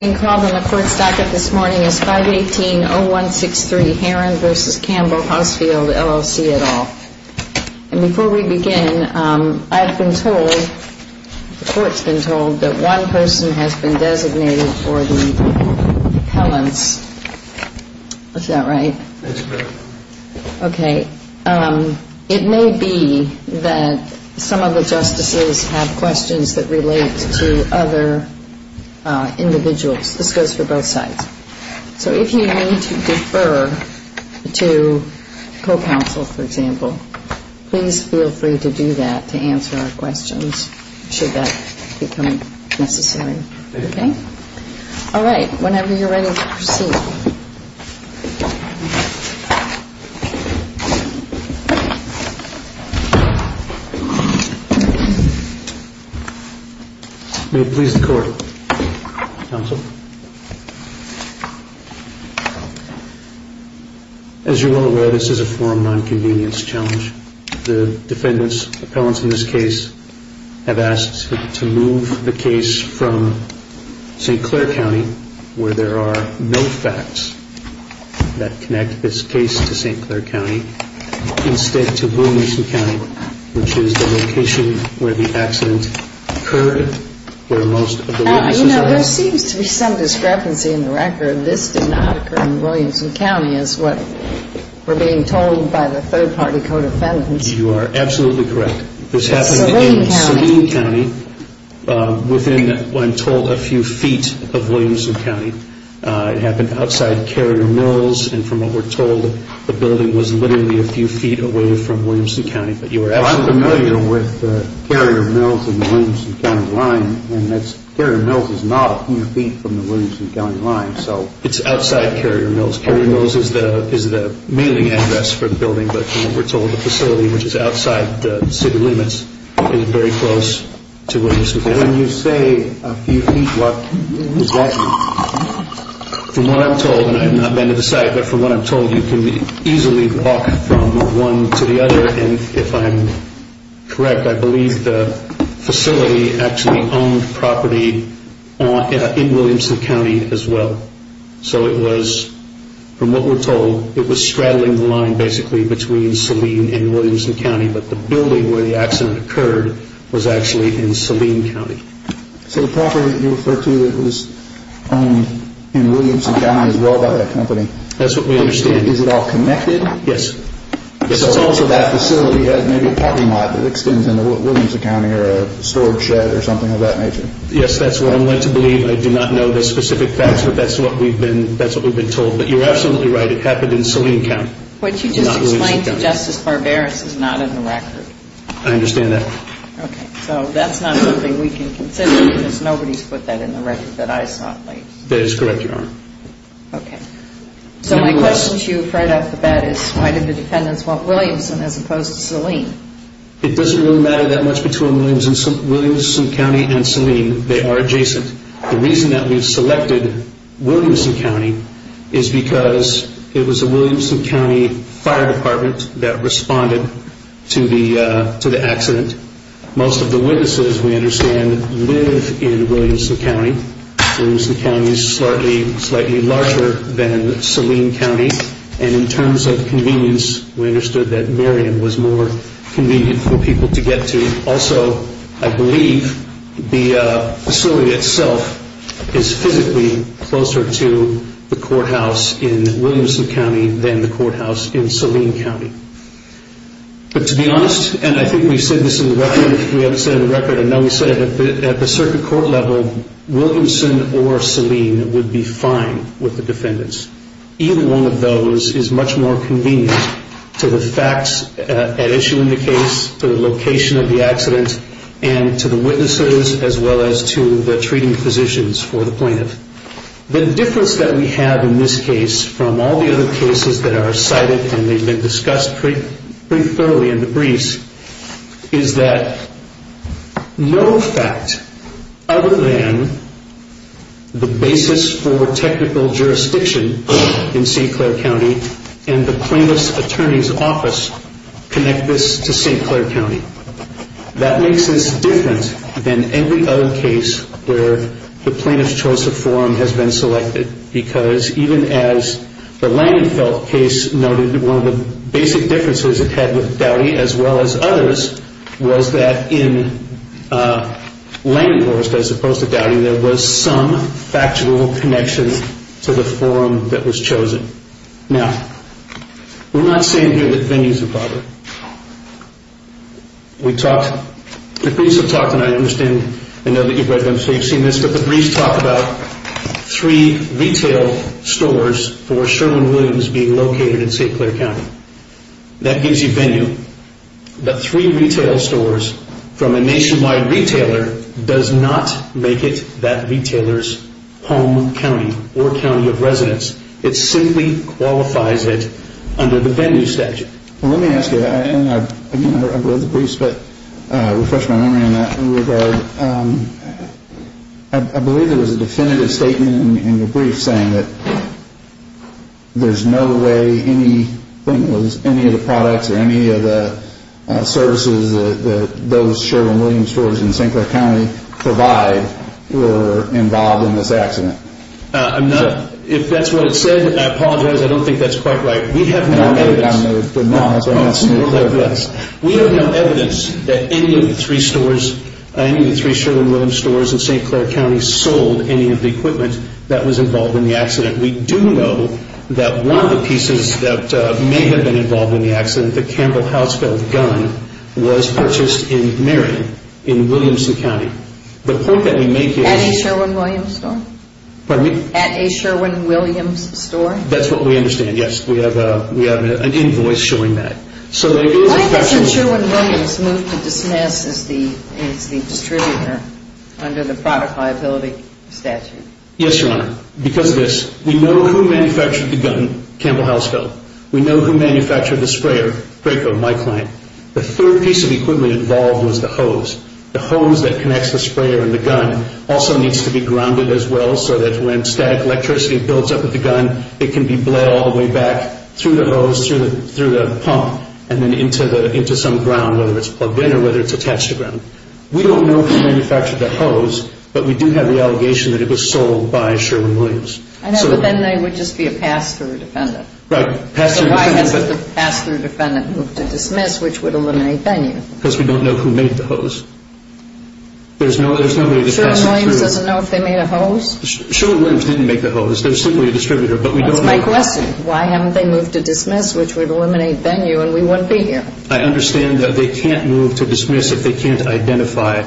The court's docket this morning is 518-0163 Herron v. Campbell Hausfeld, LLC, et al. And before we begin, I've been told, the court's been told, that one person has been designated for the appellants. Is that right? That's correct. Okay. It may be that some of the justices have questions that relate to other individuals. This goes for both sides. So if you need to defer to co-counsel, for example, please feel free to do that to answer our questions, should that become necessary. Okay? All right. Whenever you're ready to proceed. May it please the court. Counsel. As you're well aware, this is a forum non-convenience challenge. The defendants, appellants in this case, have asked to move the case from St. Clair County, where there are no facts that connect this case to St. Clair County, instead to Williamson County, which is the location where the accident occurred, where most of the witnesses are. There seems to be some discrepancy in the record. This did not occur in Williamson County, is what we're being told by the third-party co-defendants. You are absolutely correct. This happened in Saline County, within, I'm told, a few feet of Williamson County. It happened outside Carrier Mills. And from what we're told, the building was literally a few feet away from Williamson County. I'm familiar with Carrier Mills and the Williamson County line. Carrier Mills is not a few feet from the Williamson County line. It's outside Carrier Mills. Carrier Mills is the mailing address for the building. But from what we're told, the facility, which is outside the city limits, is very close to Williamson County. When you say a few feet, what does that mean? From what I'm told, and I have not been to the site, but from what I'm told, you can easily walk from one to the other. And if I'm correct, I believe the facility actually owned property in Williamson County as well. So it was, from what we're told, it was straddling the line basically between Saline and Williamson County. But the building where the accident occurred was actually in Saline County. So the property that you refer to that was owned in Williamson County is owned by that company. That's what we understand. Is it all connected? Yes. So also that facility had maybe a parking lot that extends into Williamson County or a storage shed or something of that nature. Yes, that's what I'm going to believe. I do not know the specific facts, but that's what we've been told. But you're absolutely right. It happened in Saline County, not Williamson County. What you just explained to Justice Barbaras is not in the record. I understand that. Okay. So that's not something we can consider because nobody's put that in the record that I saw. That is correct, Your Honor. Okay. So my question to you right off the bat is why did the defendants want Williamson as opposed to Saline? It doesn't really matter that much between Williamson County and Saline. They are adjacent. The reason that we've selected Williamson County is because it was a Williamson County fire department that responded to the accident. Most of the witnesses, we understand, live in Williamson County. Williamson County is slightly larger than Saline County. And in terms of convenience, we understood that Marion was more convenient for people to get to. Also, I believe the facility itself is physically closer to the courthouse in Williamson County than the courthouse in Saline County. But to be honest, and I think we've said this in the record, if we haven't said it in the record, and now we've said it, at the circuit court level, Williamson or Saline would be fine with the defendants. Either one of those is much more convenient to the facts at issue in the case, to the location of the accident, and to the witnesses as well as to the treating physicians for the plaintiff. The difference that we have in this case from all the other cases that are cited and they've been discussed pretty thoroughly in the briefs is that no fact other than the basis for technical jurisdiction in St. Clair County and the plaintiff's attorney's office connect this to St. Clair County. That makes this different than every other case where the plaintiff's choice of forum has been selected because even as the Langenfeld case noted, one of the basic differences it had with Dowdy as well as others was that in Langenfeld as opposed to Dowdy, there was some factual connection to the forum that was chosen. Now, we're not saying here that venues are bothered. The briefs have talked about three retail stores for Sherwin-Williams being located in St. Clair County. That gives you venue. The three retail stores from a nationwide retailer does not make it that retailer's home county or county of residence. It simply qualifies it under the venue statute. Let me ask you, and I've read the briefs, but I'll refresh my memory in that regard. I believe there was a definitive statement in your brief saying that there's no way any of the products or any of the services that those Sherwin-Williams stores in St. Clair County provide were involved in this accident. If that's what it said, I apologize. I don't think that's quite right. We have no evidence that any of the three stores, any of the three Sherwin-Williams stores in St. Clair County sold any of the equipment that was involved in the accident. We do know that one of the pieces that may have been involved in the accident, the Campbell Hausfeld gun, was purchased in Marion in Williamson County. At a Sherwin-Williams store? Pardon me? At a Sherwin-Williams store? That's what we understand, yes. We have an invoice showing that. Why hasn't Sherwin-Williams moved to Dismiss as the distributor under the product liability statute? Yes, Your Honor. Because of this, we know who manufactured the gun, Campbell Hausfeld. We know who manufactured the sprayer, Praco, my client. The third piece of equipment involved was the hose. The hose that connects the sprayer and the gun also needs to be grounded as well so that when static electricity builds up at the gun, it can be bled all the way back through the hose, through the pump, and then into some ground, whether it's plugged in or whether it's attached to ground. We don't know who manufactured the hose, but we do have the allegation that it was sold by Sherwin-Williams. I know, but then they would just be a pass-through defendant. Right, pass-through defendant. Why haven't they moved to Dismiss, which would eliminate Bennu? Because we don't know who made the hose. There's no way to pass it through. Sherwin-Williams doesn't know if they made a hose? Sherwin-Williams didn't make the hose. They're simply a distributor, but we don't know. That's my question. Why haven't they moved to Dismiss, which would eliminate Bennu and we wouldn't be here? I understand that they can't move to Dismiss if they can't identify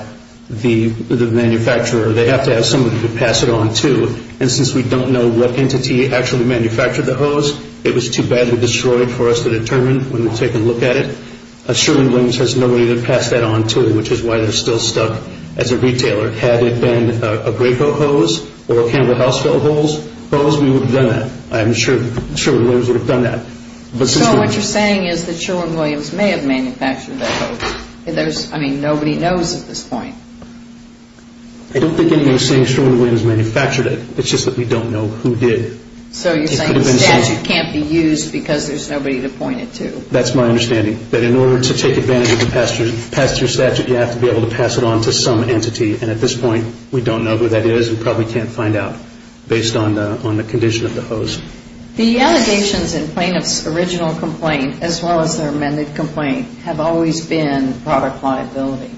the manufacturer. They have to have somebody to pass it on to. And since we don't know what entity actually manufactured the hose, it was too badly destroyed for us to determine when we take a look at it. Sherwin-Williams has nobody to pass that on to, which is why they're still stuck as a retailer. Had it been a Greycoat hose or a Campbell Houseville hose, we would have done that. I'm sure Sherwin-Williams would have done that. So what you're saying is that Sherwin-Williams may have manufactured that hose. I mean, nobody knows at this point. I don't think anybody's saying Sherwin-Williams manufactured it. It's just that we don't know who did. So you're saying the statute can't be used because there's nobody to point it to. That's my understanding, that in order to take advantage of and pass your statute, you have to be able to pass it on to some entity. And at this point, we don't know who that is. We probably can't find out based on the condition of the hose. The allegations in plaintiff's original complaint, as well as their amended complaint, have always been product liability.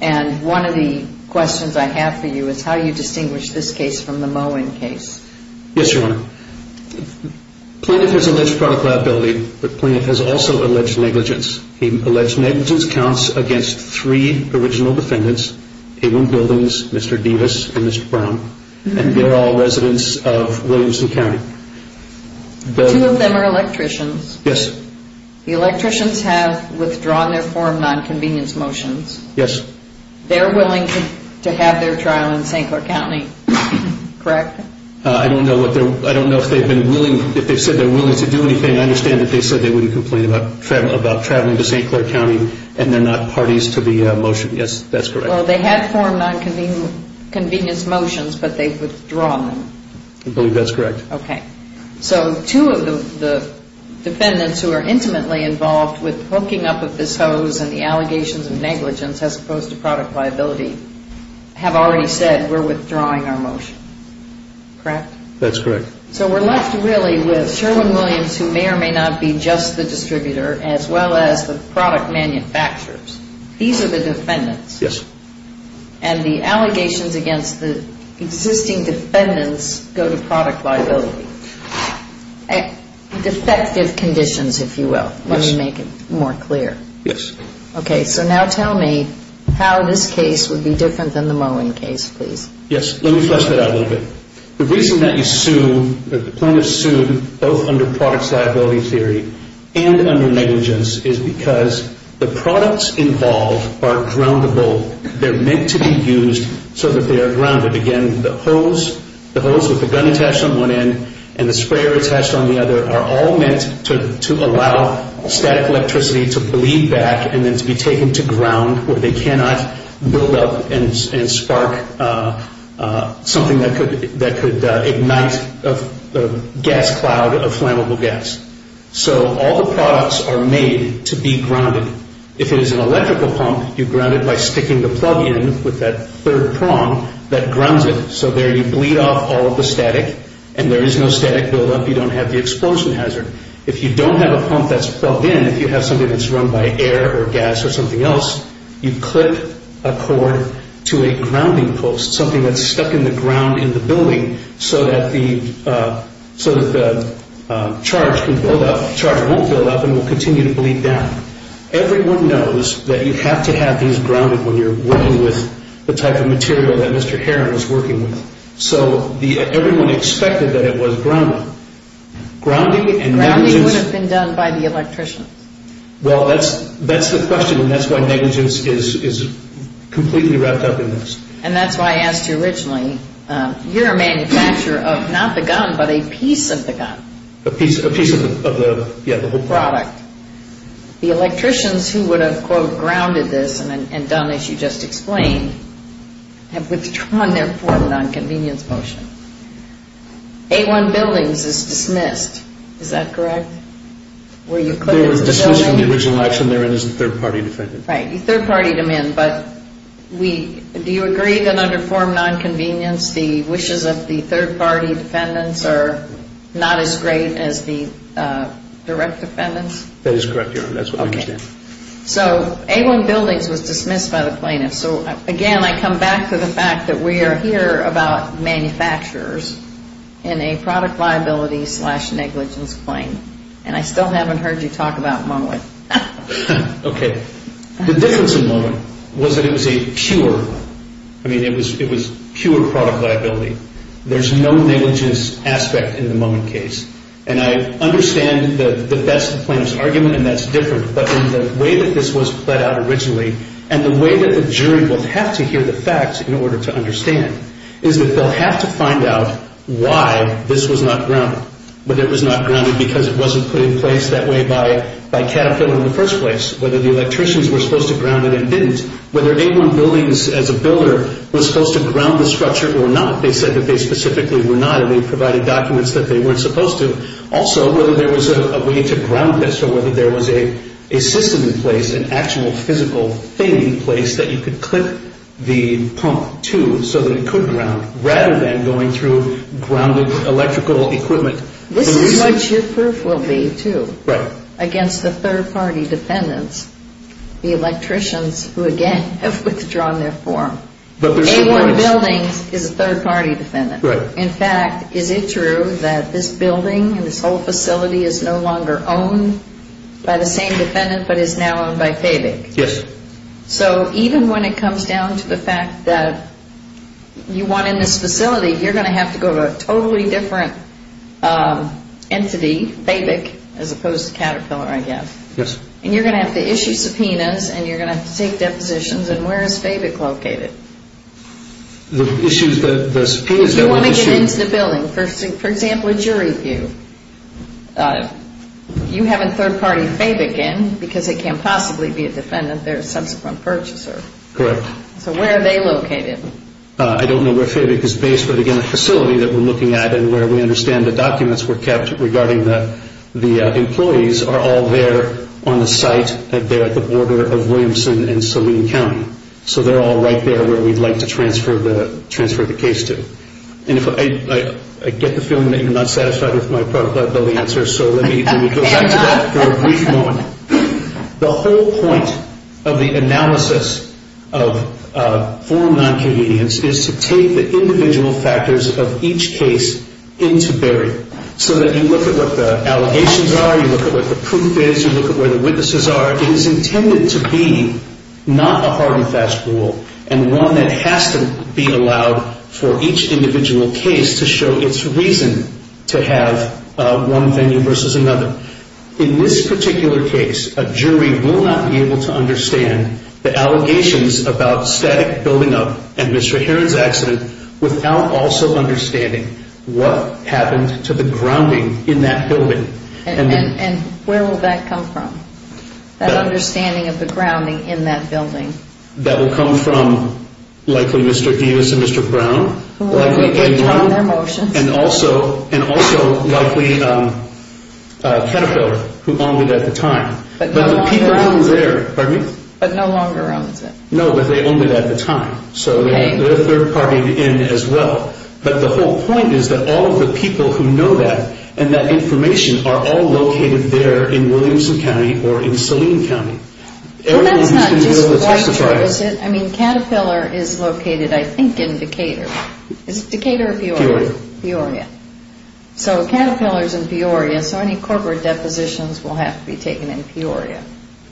And one of the questions I have for you is how you distinguish this case from the Moen case. Yes, Your Honor. Plaintiff has alleged product liability, but plaintiff has also alleged negligence. Alleged negligence counts against three original defendants, A1 Buildings, Mr. Devis, and Mr. Brown, and they're all residents of Williamson County. Two of them are electricians. Yes. The electricians have withdrawn their form nonconvenience motions. Yes. They're willing to have their trial in St. Clair County, correct? I don't know if they've been willing, if they've said they're willing to do anything. I understand that they said they wouldn't complain about traveling to St. Clair County, and they're not parties to the motion. Yes, that's correct. Well, they had form nonconvenience motions, but they've withdrawn them. I believe that's correct. Okay. So two of the defendants who are intimately involved with hooking up with this hose and the allegations of negligence as opposed to product liability have already said we're withdrawing our motion, correct? That's correct. So we're left really with Sherwin-Williams, who may or may not be just the distributor, as well as the product manufacturers. These are the defendants. Yes. And the allegations against the existing defendants go to product liability. Defective conditions, if you will. Let me make it more clear. Yes. Okay. So now tell me how this case would be different than the Mullen case, please. Yes. Let me flesh that out a little bit. The reason that the plaintiff sued both under product liability theory and under negligence is because the products involved are groundable. They're meant to be used so that they are grounded. Again, the hose with the gun attached on one end and the sprayer attached on the other are all meant to allow static electricity to bleed back and then to be taken to ground where they cannot build up and spark something that could ignite a gas cloud of flammable gas. So all the products are made to be grounded. If it is an electrical pump, you ground it by sticking the plug in with that third prong that grounds it. So there you bleed off all of the static, and there is no static buildup. You don't have the explosion hazard. If you don't have a pump that's plugged in, if you have something that's run by air or gas or something else, you clip a cord to a grounding post, something that's stuck in the ground in the building so that the charge won't build up and will continue to bleed down. Everyone knows that you have to have things grounded when you're working with the type of material that Mr. Heron is working with. So everyone expected that it was grounded. Grounding would have been done by the electrician. Well, that's the question, and that's why negligence is completely wrapped up in this. And that's why I asked you originally. You're a manufacturer of not the gun but a piece of the gun. A piece of the, yeah, the whole product. The electricians who would have, quote, grounded this and done as you just explained have withdrawn their form of nonconvenience motion. A1 Buildings is dismissed. Is that correct? They were dismissed from the original action. They're in as a third-party defendant. Right, you third-partied them in. But do you agree that under form of nonconvenience, the wishes of the third-party defendants are not as great as the direct defendants? That is correct, Your Honor. That's what we understand. Okay. So A1 Buildings was dismissed by the plaintiffs. So, again, I come back to the fact that we are here about manufacturers in a product liability slash negligence claim, and I still haven't heard you talk about Mowat. Okay. The difference in Mowat was that it was a pure, I mean, it was pure product liability. There's no negligence aspect in the Mowat case, and I understand that that's the plaintiff's argument and that's different, but in the way that this was played out originally and the way that the jury will have to hear the facts in order to understand is that they'll have to find out why this was not grounded, whether it was not grounded because it wasn't put in place that way by Caterpillar in the first place, whether the electricians were supposed to ground it and didn't, whether A1 Buildings, as a builder, was supposed to ground the structure or not. They said that they specifically were not, and they provided documents that they weren't supposed to. Also, whether there was a way to ground this or whether there was a system in place, an actual physical thing in place that you could clip the pump to so that it could ground, rather than going through grounded electrical equipment. This is what your proof will be, too, against the third-party defendants, the electricians who, again, have withdrawn their form. A1 Buildings is a third-party defendant. In fact, is it true that this building and this whole facility is no longer owned by the same defendant but is now owned by Fabig? Yes. So even when it comes down to the fact that you want in this facility, you're going to have to go to a totally different entity, Fabig, as opposed to Caterpillar, I guess. Yes. And you're going to have to issue subpoenas and you're going to have to take depositions, and where is Fabig located? The issues, the subpoenas that were issued... You want to get into the building. For example, a jury view. You haven't third-partied Fabig in because they can't possibly be a defendant. They're a subsequent purchaser. Correct. So where are they located? I don't know where Fabig is based, but, again, the facility that we're looking at and where we understand the documents were kept regarding the employees are all there on the site at the border of Williamson and Saline County. So they're all right there where we'd like to transfer the case to. I get the feeling that you're not satisfied with my product liability answer, so let me go back to that for a brief moment. The whole point of the analysis of formal non-convenience is to take the individual factors of each case into bearing so that you look at what the allegations are, you look at what the proof is, you look at where the witnesses are. It is intended to be not a hard and fast rule and one that has to be allowed for each individual case to show its reason to have one venue versus another. In this particular case, a jury will not be able to understand the allegations about static building up and Mr. Heron's accident without also understanding what happened to the grounding in that building. And where will that come from, that understanding of the grounding in that building? That will come from likely Mr. Davis and Mr. Brown, likely anyone, and also likely Caterpillar, who owned it at the time. But no longer owns it. No, but they owned it at the time, so they're third-party in as well. But the whole point is that all of the people who know that and that information are all located there in Williamson County or in Saline County. Well, that's not just the White River, is it? I mean, Caterpillar is located, I think, in Decatur. Is it Decatur or Peoria? Peoria. Peoria. So Caterpillar is in Peoria, so any corporate depositions will have to be taken in Peoria.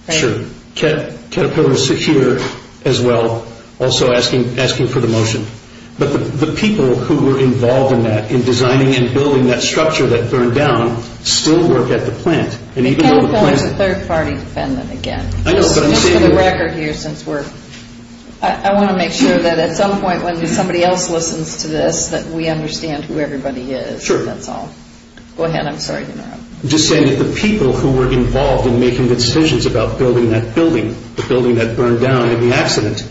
Sure. Caterpillar is secure as well, also asking for the motion. But the people who were involved in that, in designing and building that structure that burned down, still work at the plant. Caterpillar is a third-party defendant again. I know, but I'm saying that we're— Just for the record here, since we're— I want to make sure that at some point when somebody else listens to this that we understand who everybody is. Sure. That's all. Go ahead. I'm sorry to interrupt. I'm just saying that the people who were involved in making the decisions about building that building, the building that burned down in the accident,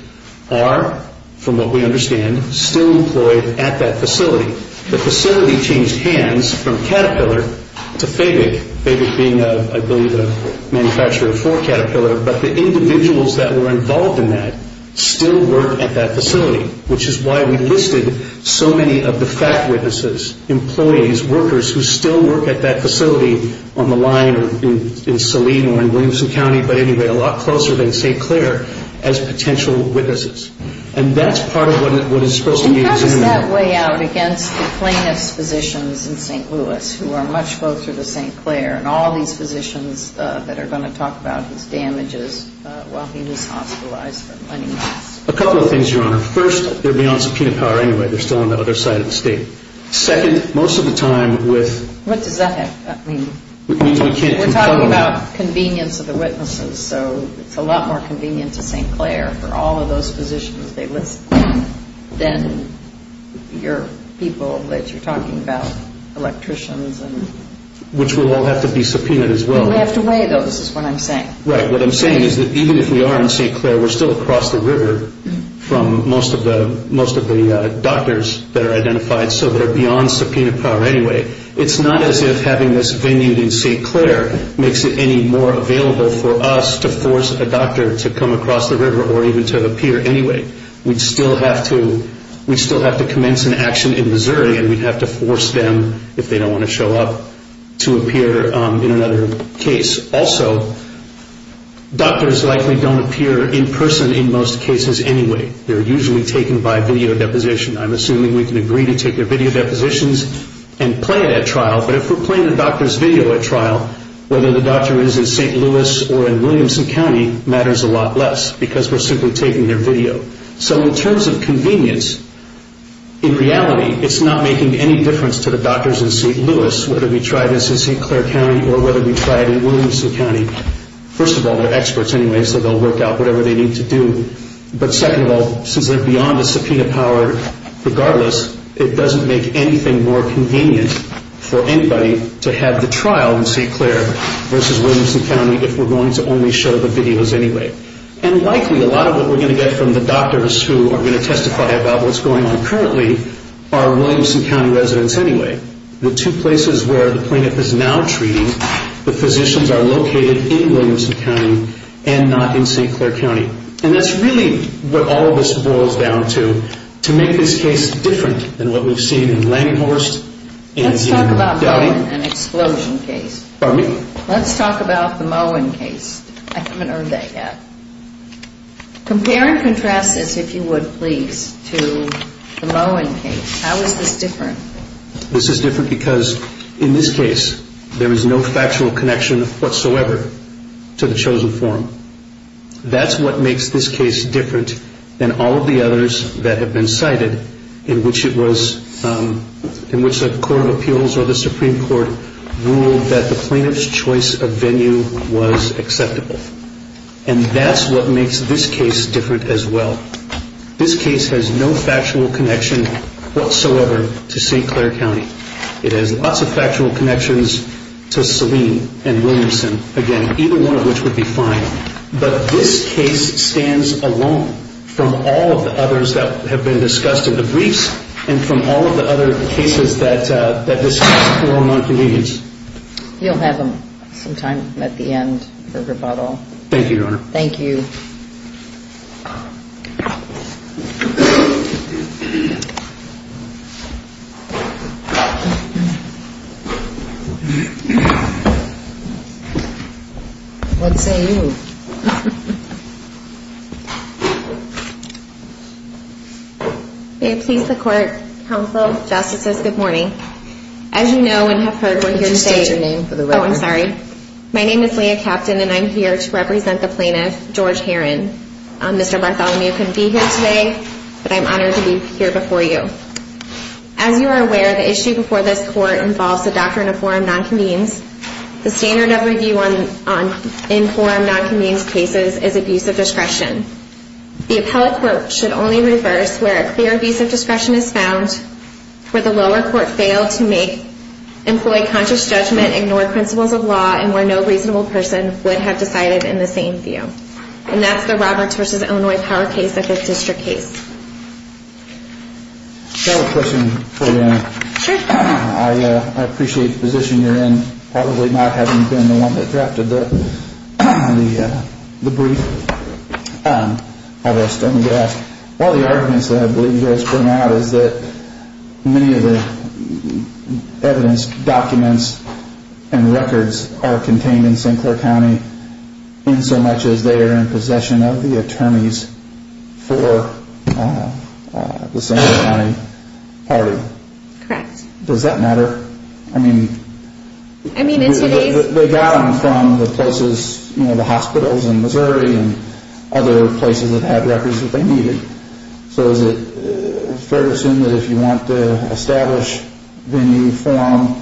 are, from what we understand, still employed at that facility. The facility changed hands from Caterpillar to Fabic, Fabic being, I believe, a manufacturer for Caterpillar. But the individuals that were involved in that still work at that facility, which is why we listed so many of the fact witnesses, employees, workers, who still work at that facility on the line in Saline or in Williamson County, but anyway, a lot closer than St. Clair, as potential witnesses. And that's part of what is supposed to be— And how does that weigh out against the plaintiff's positions in St. Louis, who are much closer to St. Clair, and all these positions that are going to talk about his damages while he was hospitalized for money loss? A couple of things, Your Honor. First, they're beyond subpoena power anyway. They're still on the other side of the state. Second, most of the time with— What does that mean? We're talking about convenience of the witnesses, so it's a lot more convenient to St. Clair for all of those positions they list than your people that you're talking about, electricians and— Which will all have to be subpoenaed as well. We'll have to weigh those is what I'm saying. Right. What I'm saying is that even if we are in St. Clair, we're still across the river from most of the doctors that are identified, so they're beyond subpoena power anyway. It's not as if having this venue in St. Clair makes it any more available for us to force a doctor to come across the river or even to appear anyway. We'd still have to commence an action in Missouri, and we'd have to force them, if they don't want to show up, to appear in another case. Also, doctors likely don't appear in person in most cases anyway. They're usually taken by video deposition. I'm assuming we can agree to take their video depositions and play it at trial, but if we're playing the doctor's video at trial, whether the doctor is in St. Louis or in Williamson County matters a lot less because we're simply taking their video. So in terms of convenience, in reality, it's not making any difference to the doctors in St. Louis, whether we try this in St. Clair County or whether we try it in Williamson County. First of all, they're experts anyway, so they'll work out whatever they need to do. But second of all, since they're beyond the subpoena power, regardless, it doesn't make anything more convenient for anybody to have the trial in St. Clair versus Williamson County if we're going to only show the videos anyway. And likely, a lot of what we're going to get from the doctors who are going to testify about what's going on currently are Williamson County residents anyway. The two places where the plaintiff is now treating, the physicians are located in Williamson County and not in St. Clair County. And that's really what all of this boils down to, to make this case different than what we've seen in Langehorst, in Indian Grove County. Pardon me? Compare and contrast this, if you would, please, to the Lohan case. How is this different? This is different because in this case, there is no factual connection whatsoever to the chosen form. That's what makes this case different than all of the others that have been cited in which a court of appeals or the Supreme Court ruled that the plaintiff's choice of venue was acceptable. And that's what makes this case different as well. This case has no factual connection whatsoever to St. Clair County. It has lots of factual connections to Selene and Williamson. Again, either one of which would be fine. But this case stands alone from all of the others that have been discussed in the briefs and from all of the other cases that discuss poor among Canadians. You'll have some time at the end for rebuttal. Thank you, Your Honor. Thank you. What say you? May it please the Court, Counsel, Justices, good morning. As you know and have heard, we're here today. Would you state your name for the record? Oh, I'm sorry. My name is Leah Kapton, and I'm here to represent the plaintiff, George Heron. Mr. Bartholomew couldn't be here today, but I'm honored to be here before you. As you are aware, the issue before this Court involves a doctrine of forum nonconvenes. The standard of review in forum nonconvenes cases is abuse of discretion. The appellate court should only reverse where a clear abuse of discretion is found. Where the lower court failed to employ conscious judgment, ignore principles of law, and where no reasonable person would have decided in the same view. And that's the Roberts v. Illinois power case, the Fifth District case. I have a question for you, Your Honor. Sure. I appreciate the position you're in, probably not having been the one that drafted the brief. All the arguments that I believe you guys bring out is that many of the evidence, documents, and records are contained in St. Clair County in so much as they are in possession of the attorneys for the St. Clair County party. Correct. Does that matter? I mean... I mean, in today's... They got them from the places, you know, the hospitals in Missouri and other places that had records that they needed. So is it fair to assume that if you want to establish the new forum,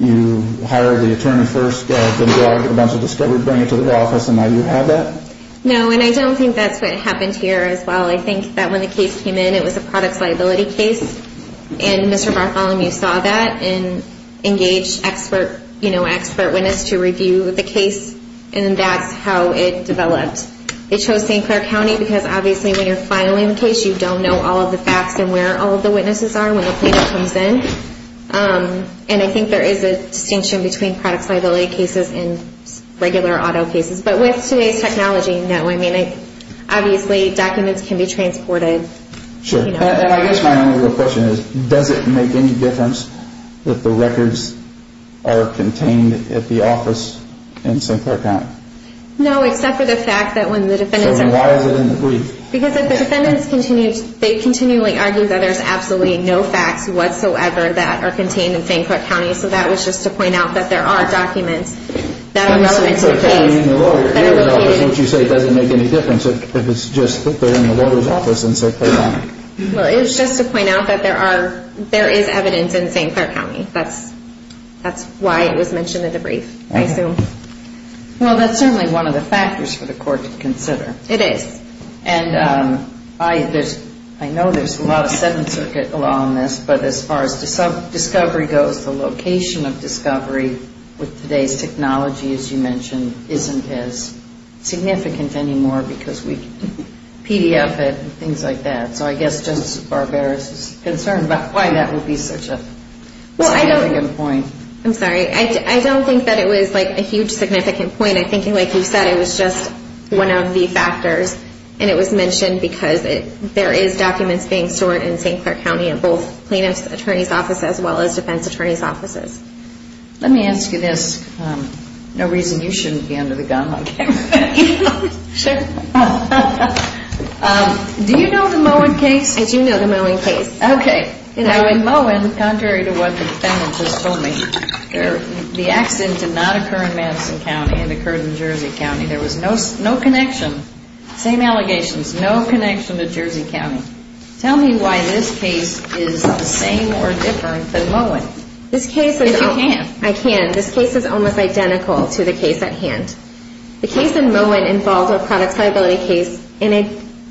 you hire the attorney first, get out the drug, get a bunch of discovery, bring it to the office, and now you have that? No, and I don't think that's what happened here as well. I think that when the case came in, it was a products liability case. And Mr. Bartholomew saw that and engaged expert witness to review the case, and that's how it developed. It chose St. Clair County because obviously when you're filing the case, you don't know all of the facts and where all of the witnesses are when the plaintiff comes in. And I think there is a distinction between products liability cases and regular auto cases. But with today's technology, no. I mean, obviously documents can be transported. Sure. And I guess my only real question is, does it make any difference if the records are contained at the office in St. Clair County? No, except for the fact that when the defendants are... So then why is it in the brief? Because if the defendants continue, they continually argue that there's absolutely no facts whatsoever that are contained in St. Clair County, so that was just to point out that there are documents that are relevant to the case that are located... Well, it was just to point out that there is evidence in St. Clair County. That's why it was mentioned in the brief, I assume. Well, that's certainly one of the factors for the court to consider. It is. And I know there's a lot of Seventh Circuit law on this, but as far as discovery goes, the location of discovery with today's technology, as you mentioned, isn't as significant anymore because we PDF it and things like that. So I guess Justice Barbaros is concerned about why that would be such a significant point. I'm sorry. I don't think that it was a huge significant point. I think, like you said, it was just one of the factors. And it was mentioned because there is documents being stored in St. Clair County in both plaintiff's attorney's offices as well as defense attorney's offices. Let me ask you this. No reason you shouldn't be under the gun on camera. Sure. Do you know the Mowen case? I do know the Mowen case. Okay. Now, in Mowen, contrary to what the defendant just told me, the accident did not occur in Madison County. It occurred in Jersey County. There was no connection, same allegations, no connection to Jersey County. Tell me why this case is the same or different than Mowen. I can. This case is almost identical to the case at hand. The case in Mowen involves a products liability case, and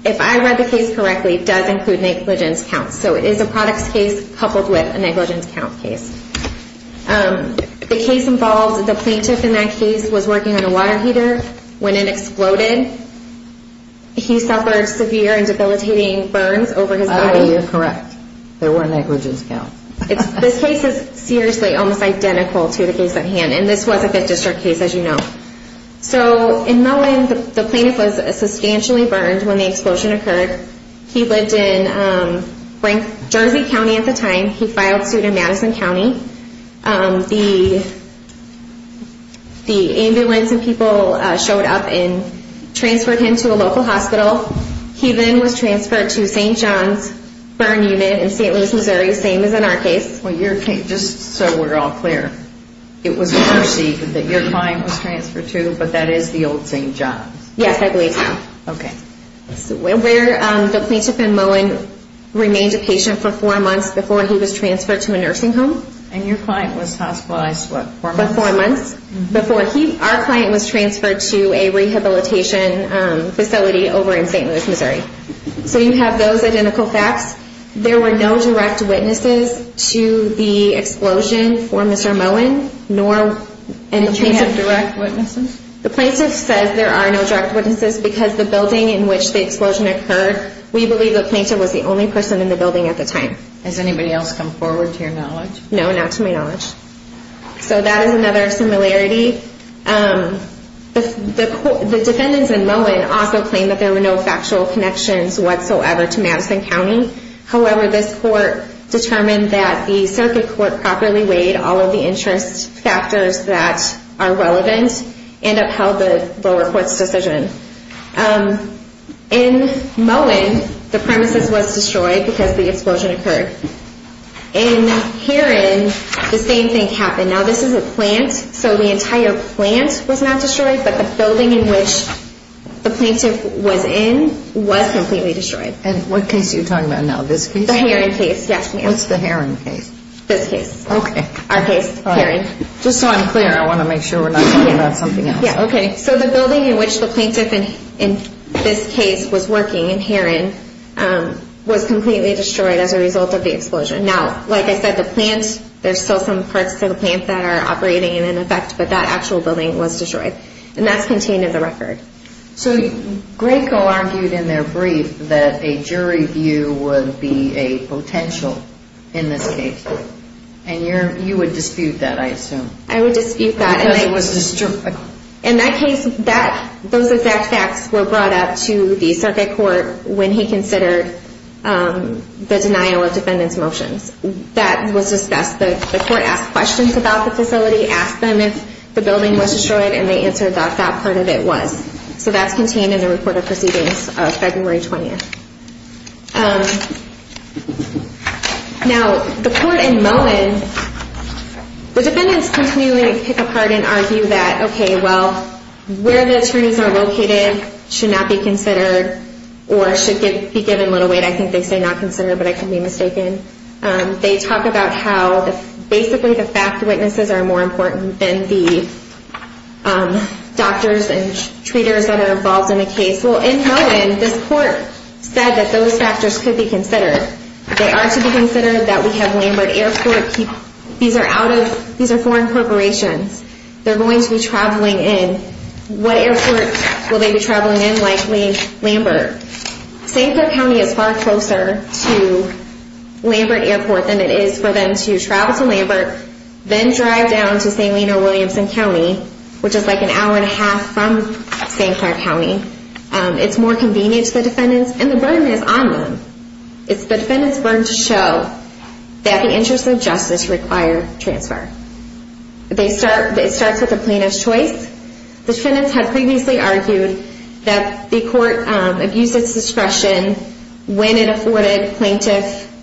if I read the case correctly, it does include negligence counts. So it is a products case coupled with a negligence count case. The case involves the plaintiff in that case was working on a water heater. When it exploded, he suffered severe and debilitating burns over his body. Oh, you're correct. There were negligence counts. This case is seriously almost identical to the case at hand, and this was a Fifth District case, as you know. So in Mowen, the plaintiff was substantially burned when the explosion occurred. He lived in Jersey County at the time. He filed suit in Madison County. The ambulance and people showed up and transferred him to a local hospital. He then was transferred to St. John's Burn Unit in St. Louis, Missouri, same as in our case. Well, just so we're all clear, it was Mercy that your client was transferred to, but that is the old St. John's? Yes, I believe so. Okay. The plaintiff in Mowen remained a patient for four months before he was transferred to a nursing home. And your client was hospitalized, what, four months? For four months before our client was transferred to a rehabilitation facility over in St. Louis, Missouri. So you have those identical facts. There were no direct witnesses to the explosion for Mr. Mowen, nor any plaintiff. You have direct witnesses? The plaintiff says there are no direct witnesses because the building in which the explosion occurred, we believe the plaintiff was the only person in the building at the time. Has anybody else come forward to your knowledge? No, not to my knowledge. So that is another similarity. The defendants in Mowen also claim that there were no factual connections whatsoever to Madison County. However, this court determined that the circuit court properly weighed all of the interest factors that are relevant and upheld the lower court's decision. In Mowen, the premises was destroyed because the explosion occurred. In Heron, the same thing happened. Now, this is a plant, so the entire plant was not destroyed, but the building in which the plaintiff was in was completely destroyed. And what case are you talking about now, this case? The Heron case, yes, ma'am. What's the Heron case? This case. Okay. Our case, Heron. Just so I'm clear, I want to make sure we're not talking about something else. Okay. So the building in which the plaintiff in this case was working in Heron was completely destroyed as a result of the explosion. Now, like I said, the plant, there's still some parts to the plant that are operating in effect, but that actual building was destroyed, and that's contained in the record. So Graco argued in their brief that a jury view would be a potential in this case, and you would dispute that, I assume. I would dispute that. Because it was destroyed. In that case, those exact facts were brought up to the circuit court when he considered the denial of defendant's motions. That was discussed. The court asked questions about the facility, asked them if the building was destroyed, and they answered that that part of it was. So that's contained in the report of proceedings of February 20th. Now, the court in Moen, the defendants continually pick apart and argue that, okay, well, where the attorneys are located should not be considered or should be given little weight. I think they say not considered, but I could be mistaken. They talk about how basically the fact witnesses are more important than the doctors and treaters that are involved in the case. Well, in Moen, this court said that those factors could be considered. They are to be considered that we have Lambert Airport. These are foreign corporations. They're going to be traveling in. What airport will they be traveling in? Likely Lambert. St. Clair County is far closer to Lambert Airport than it is for them to travel to Lambert, then drive down to St. Lino, Williamson County, which is like an hour and a half from St. Clair County. It's more convenient to the defendants, and the burden is on them. It's the defendants' burden to show that the interests of justice require transfer. It starts with the plaintiff's choice. The defendants had previously argued that the court abused its discretion when it afforded plaintiff's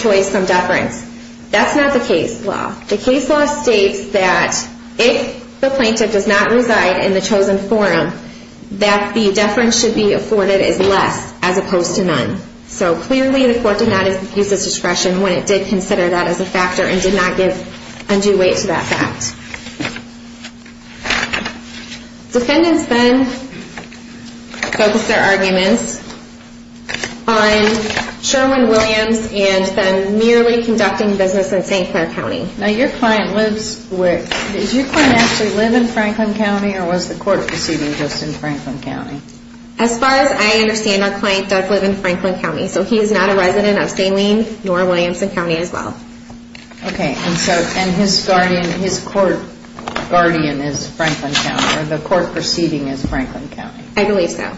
choice from deference. That's not the case law. The case law states that if the plaintiff does not reside in the chosen forum, that the deference should be afforded as less as opposed to none. So clearly the court did not abuse its discretion when it did consider that as a factor and did not give undue weight to that fact. Defendants then focused their arguments on Sherwin-Williams and then merely conducting business in St. Clair County. Now your client lives where? Does your client actually live in Franklin County, or was the court proceeding just in Franklin County? As far as I understand, our client does live in Franklin County. So he is not a resident of St. Lene nor Williamson County as well. Okay, and his court guardian is Franklin County, or the court proceeding is Franklin County. I believe so.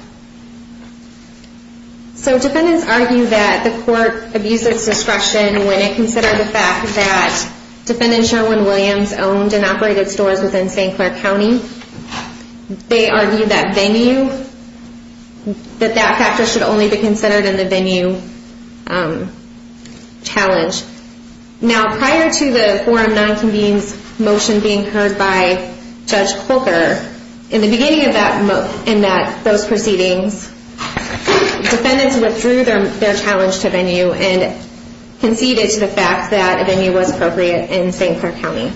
So defendants argue that the court abused its discretion when it considered the fact that defendant Sherwin-Williams owned and operated stores within St. Clair County. They argue that venue, that that factor should only be considered in the venue challenge. Now prior to the forum non-convenes motion being heard by Judge Colker, in the beginning of those proceedings, defendants withdrew their challenge to venue and conceded to the fact that venue was appropriate in St. Clair County.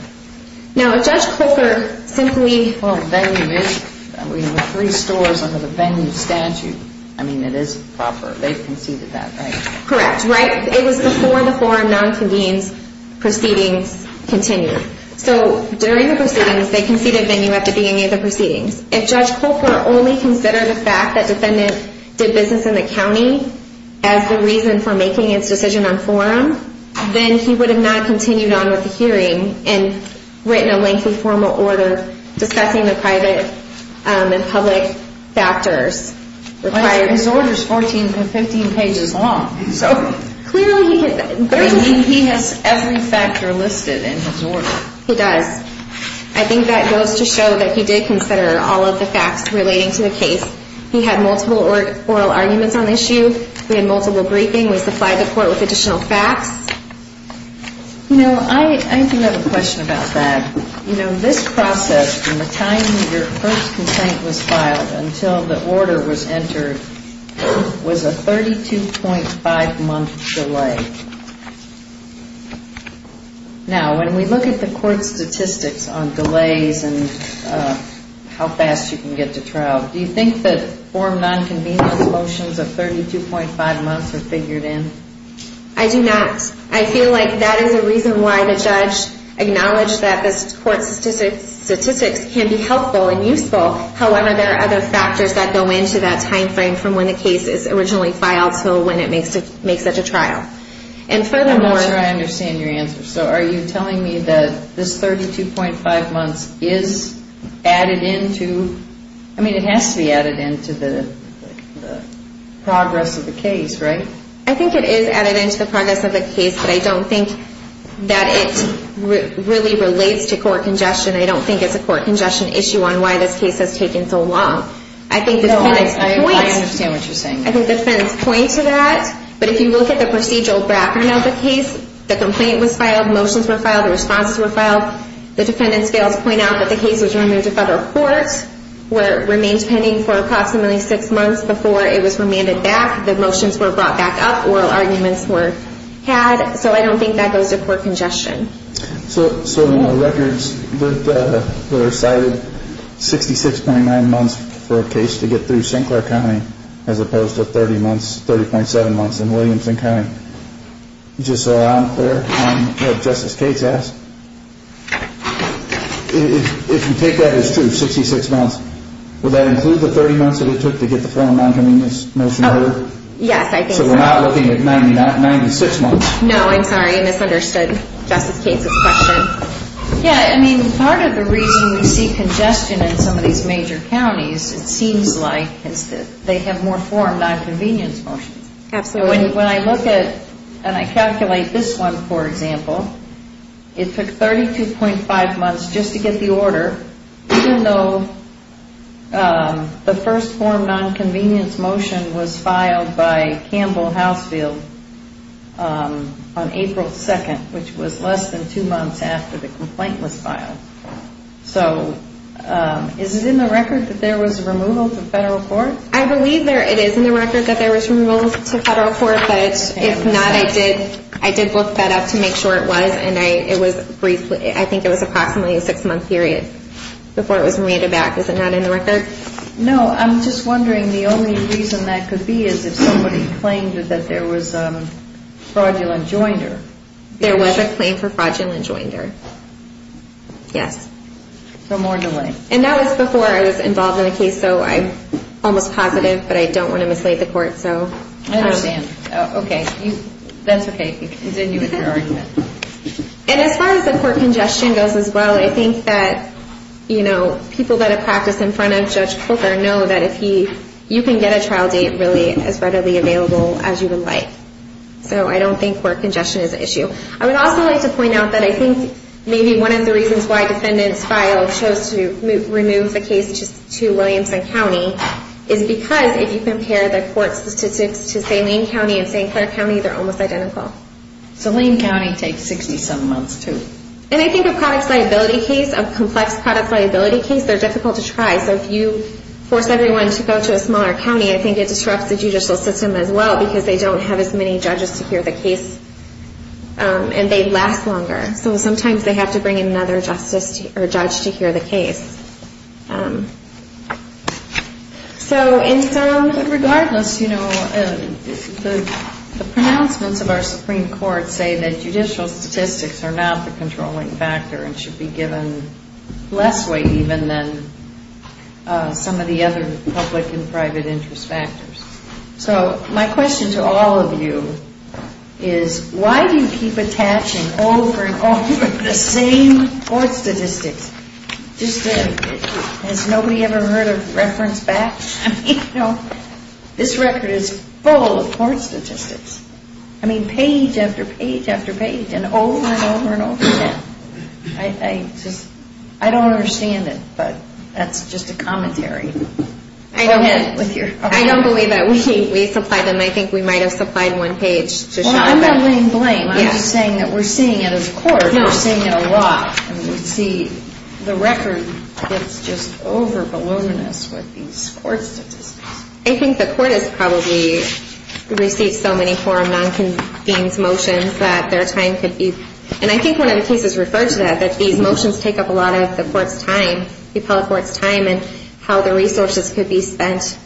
Now if Judge Colker simply... Well, venue is, we have three stores under the venue statute. I mean, it is proper. They conceded that, right? Correct, right. It was before the forum non-convenes proceedings continued. So during the proceedings, they conceded venue at the beginning of the proceedings. If Judge Colker only considered the fact that defendant did business in the county as the reason for making its decision on forum, then he would have not continued on with the hearing and written a lengthy formal order discussing the private and public factors required. His order is 14 to 15 pages long. So clearly he could... He has every factor listed in his order. He does. I think that goes to show that he did consider all of the facts relating to the case. He had multiple oral arguments on the issue. We had multiple briefings. We supplied the court with additional facts. You know, I do have a question about that. You know, this process from the time your first complaint was filed until the order was entered was a 32.5-month delay. Now, when we look at the court statistics on delays and how fast you can get to trial, do you think that form non-convenience motions of 32.5 months are figured in? I do not. I feel like that is a reason why the judge acknowledged that this court statistics can be helpful and useful. However, there are other factors that go into that time frame from when the case is originally filed to when it makes it to trial. And furthermore... I'm not sure I understand your answer. So are you telling me that this 32.5 months is added in to... I mean, it has to be added in to the progress of the case, right? I think it is added in to the progress of the case, but I don't think that it really relates to court congestion. I don't think it's a court congestion issue on why this case has taken so long. I think the defendants point... No, I understand what you're saying. I think the defendants point to that. But if you look at the procedural bracket of the case, the complaint was filed, motions were filed, the responses were filed. The defendants fail to point out that the case was removed to federal court, where it remained pending for approximately six months before it was remanded back. The motions were brought back up. Oral arguments were had. So I don't think that goes to court congestion. So the records that are cited, 66.9 months for a case to get through Sinclair County, as opposed to 30 months, 30.7 months in Williamson County. Just so I'm clear on what Justice Cates asked. If you take that as true, 66 months, would that include the 30 months that it took to get the form of nonconvenience motion order? Yes, I think so. So we're not looking at 96 months. No, I'm sorry, I misunderstood Justice Cates' question. Yeah, I mean, part of the reason we see congestion in some of these major counties, it seems like is that they have more form of nonconvenience motions. Absolutely. So when I look at and I calculate this one, for example, it took 32.5 months just to get the order, even though the first form of nonconvenience motion was filed by Campbell Housefield on April 2nd, which was less than two months after the complaint was filed. So is it in the record that there was removal to federal court? I believe it is in the record that there was removal to federal court, but if not, I did look that up to make sure it was, and I think it was approximately a six-month period before it was remanded back. Is it not in the record? No. I'm just wondering, the only reason that could be is if somebody claimed that there was fraudulent joinder. There was a claim for fraudulent joinder, yes. So more delay. And that was before I was involved in the case, so I'm almost positive, but I don't want to mislead the court, so. I understand. Okay. That's okay. You can continue with your argument. And as far as the court congestion goes as well, I think that people that have practiced in front of Judge Corker know that you can get a trial date really as readily available as you would like. So I don't think court congestion is an issue. I would also like to point out that I think maybe one of the reasons why defendants filed chose to remove the case to Williamson County is because if you compare the court statistics to, say, Lane County and St. Clair County, they're almost identical. So Lane County takes 60-some months too. And I think a products liability case, a complex products liability case, they're difficult to try. So if you force everyone to go to a smaller county, I think it disrupts the judicial system as well because they don't have as many judges to hear the case and they last longer. So sometimes they have to bring in another judge to hear the case. So regardless, the pronouncements of our Supreme Court say that judicial statistics are not the controlling factor and should be given less weight even than some of the other public and private interest factors. So my question to all of you is why do you keep attaching over and over the same court statistics? Has nobody ever heard a reference back? I mean, you know, this record is full of court statistics. I mean, page after page after page and over and over and over again. I don't understand it, but that's just a commentary. I don't believe that we supplied them. I think we might have supplied one page to show them. Well, I'm not laying blame. I'm just saying that we're seeing it as a court. We're seeing it a lot. We see the record gets just overbaloneness with these court statistics. I think the court has probably received so many forum non-convened motions that their time could be and I think one of the cases referred to that, that these motions take up a lot of the court's time, the appellate court's time and how the resources could be spent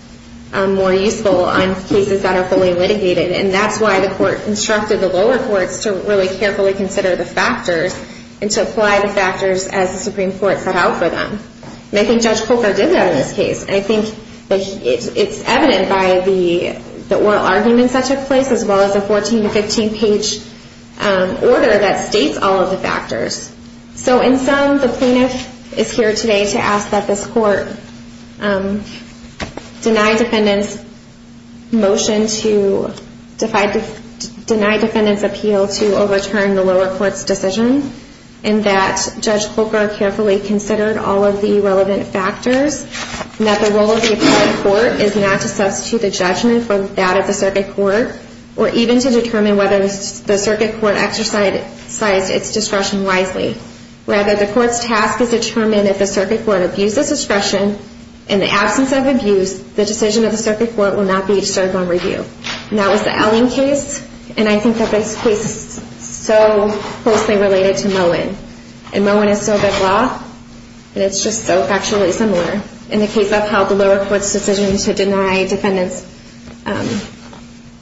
more useful on cases that are fully litigated and that's why the court instructed the lower courts to really carefully consider the factors and to apply the factors as the Supreme Court set out for them. And I think Judge Coker did that in this case. I think it's evident by the oral arguments that took place as well as the 14-15 page order that states all of the factors. So in sum, the plaintiff is here today to ask that this court deny defendant's motion to deny defendant's appeal to overturn the lower court's decision and that Judge Coker carefully considered all of the relevant factors and that the role of the appellate court is not to substitute the judgment for that of the circuit court or even to determine whether the circuit court exercised its discretion wisely. Rather, the court's task is to determine if the circuit court abuses discretion in the absence of abuse, the decision of the circuit court will not be served on review. And that was the Elling case and I think that this case is so closely related to Moen. And Moen is still a big law and it's just so factually similar in the case of how the lower court's decision to deny defendant's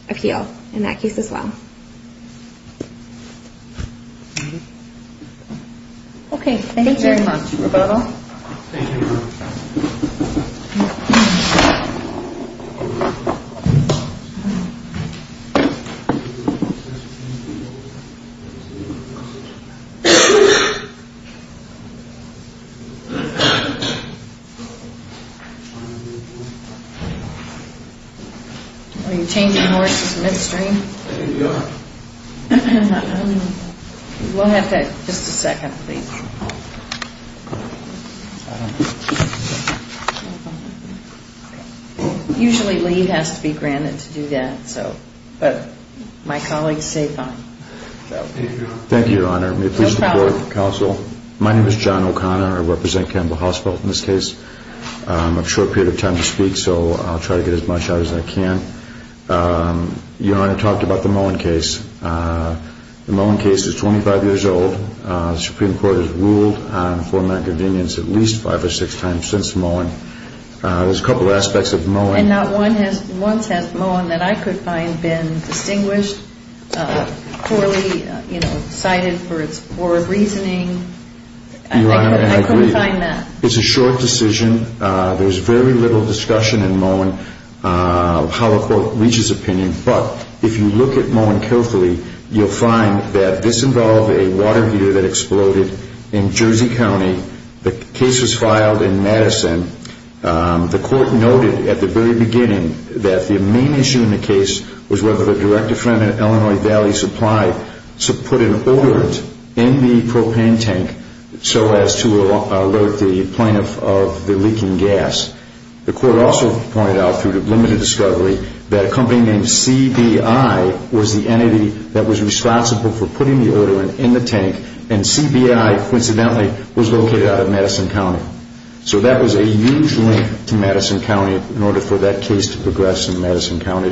appeal in that case as well. Okay. Thank you very much, Roberto. Are you changing over to the midstream? We'll have to, just a second, please. Usually leave has to be granted to do that, but my colleagues say fine. Thank you, Your Honor. No problem. My name is John O'Connor. I represent Campbell Hospital in this case. I have a short period of time to speak, so I'll try to get as much out as I can. Your Honor, I talked about the Moen case. The Moen case is 25 years old. The Supreme Court has ruled on format convenience at least five or six times since Moen. There's a couple of aspects of Moen. And not one has, once has Moen that I could find been distinguished, poorly, you know, cited for its poor reasoning. Your Honor, I agree. I couldn't find that. It's a short decision. There's very little discussion in Moen how a court reaches opinion. But if you look at Moen carefully, you'll find that this involved a water heater that exploded in Jersey County. The case was filed in Madison. The court noted at the very beginning that the main issue in the case was whether the director friend at Illinois Valley Supply to put an odorant in the propane tank so as to alert the plaintiff of the leaking gas. The court also pointed out through limited discovery that a company named CBI was the entity that was responsible for putting the odorant in the tank. And CBI, coincidentally, was located out of Madison County. So that was a huge link to Madison County in order for that case to progress in Madison County.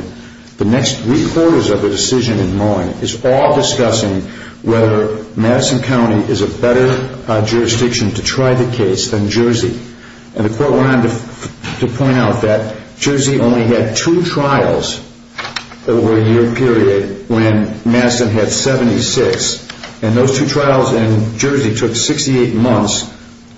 The next three quarters of the decision in Moen is all discussing whether Madison County is a better jurisdiction to try the case than Jersey. And the court went on to point out that Jersey only had two trials over a year period when Madison had 76. And those two trials in Jersey took 68 months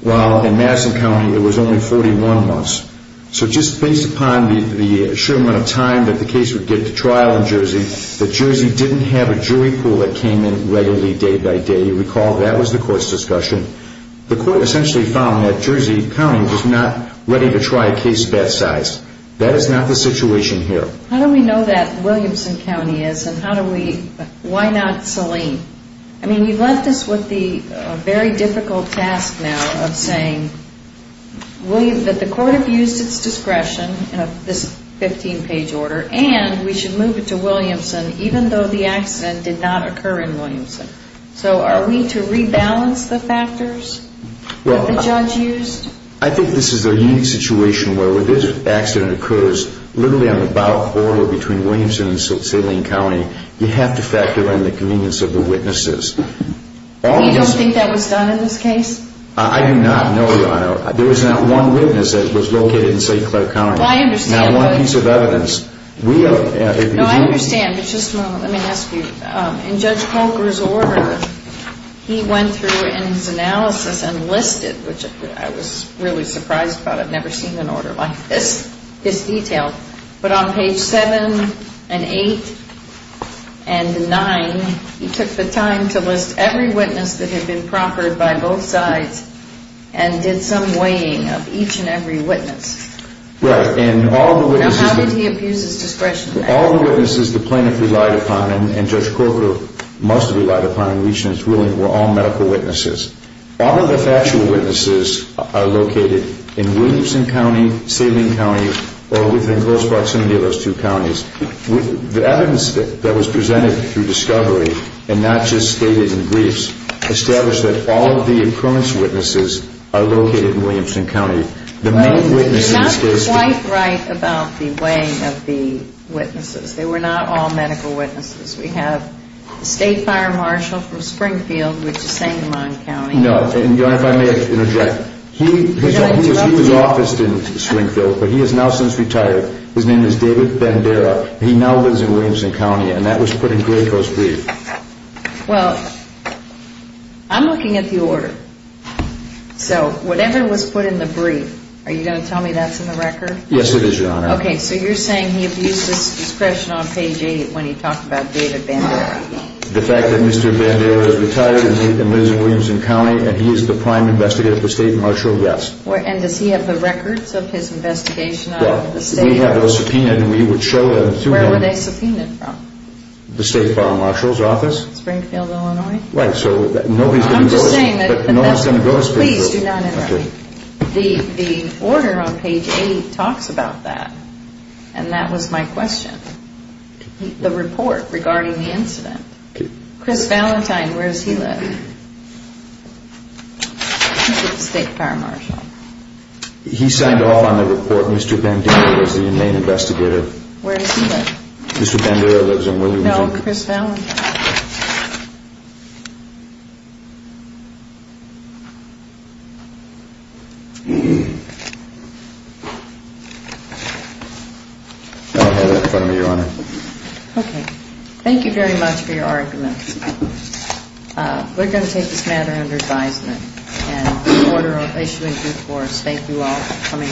while in Madison County it was only 41 months. So just based upon the short amount of time that the case would get to trial in Jersey, that Jersey didn't have a jury pool that came in readily day by day. You recall that was the court's discussion. The court essentially found that Jersey County was not ready to try a case that size. That is not the situation here. How do we know that Williamson County is and how do we, why not Saline? I mean, you've left us with the very difficult task now of saying that the court abused its discretion in this 15-page order and we should move it to Williamson even though the accident did not occur in Williamson. So are we to rebalance the factors that the judge used? Well, I think this is a unique situation where when this accident occurs, literally on the bowel corridor between Williamson and Saline County, you have to factor in the convenience of the witnesses. You don't think that was done in this case? I do not, no, Your Honor. There was not one witness that was located in St. Clair County. I understand. Not one piece of evidence. No, I understand, but just a moment, let me ask you. In Judge Polker's order, he went through in his analysis and listed, which I was really surprised about, because I've never seen an order like this, this detailed. But on page 7 and 8 and 9, he took the time to list every witness that had been proffered by both sides and did some weighing of each and every witness. Right, and all the witnesses. Now, how did he abuse his discretion in that? All the witnesses the plaintiff relied upon and Judge Polker must have relied upon in reaching his ruling were all medical witnesses. All of the factual witnesses are located in Williamson County, Saline County, or within close proximity of those two counties. The evidence that was presented through discovery, and not just stated in briefs, established that all of the occurrence witnesses are located in Williamson County. The main witnesses in this case. You're not quite right about the weighing of the witnesses. They were not all medical witnesses. We have the State Fire Marshal from Springfield, which is Sangamon County. No, and Your Honor, if I may interject. He was officed in Springfield, but he has now since retired. His name is David Bandera. He now lives in Williamson County, and that was put in Graco's brief. Well, I'm looking at the order. So, whatever was put in the brief, are you going to tell me that's in the record? Yes, it is, Your Honor. Okay, so you're saying he abused his discretion on page 8 when he talked about David Bandera. The fact that Mr. Bandera has retired and lives in Williamson County, and he is the prime investigator for State Marshal, yes. And does he have the records of his investigation? Yes, we have those subpoenaed, and we would show them to him. Where were they subpoenaed from? The State Fire Marshal's office. Springfield, Illinois? Right, so nobody's going to go to Springfield. Please do not interrupt me. The order on page 8 talks about that, and that was my question. The report regarding the incident. Chris Valentine, where does he live? He's with the State Fire Marshal. He signed off on the report. Mr. Bandera was the main investigator. Where does he live? Mr. Bandera lives in Williamson. No, Chris Valentine. Thank you very much for your arguments. We're going to take this matter under advisement. And in order of issuing due course, thank you all for coming.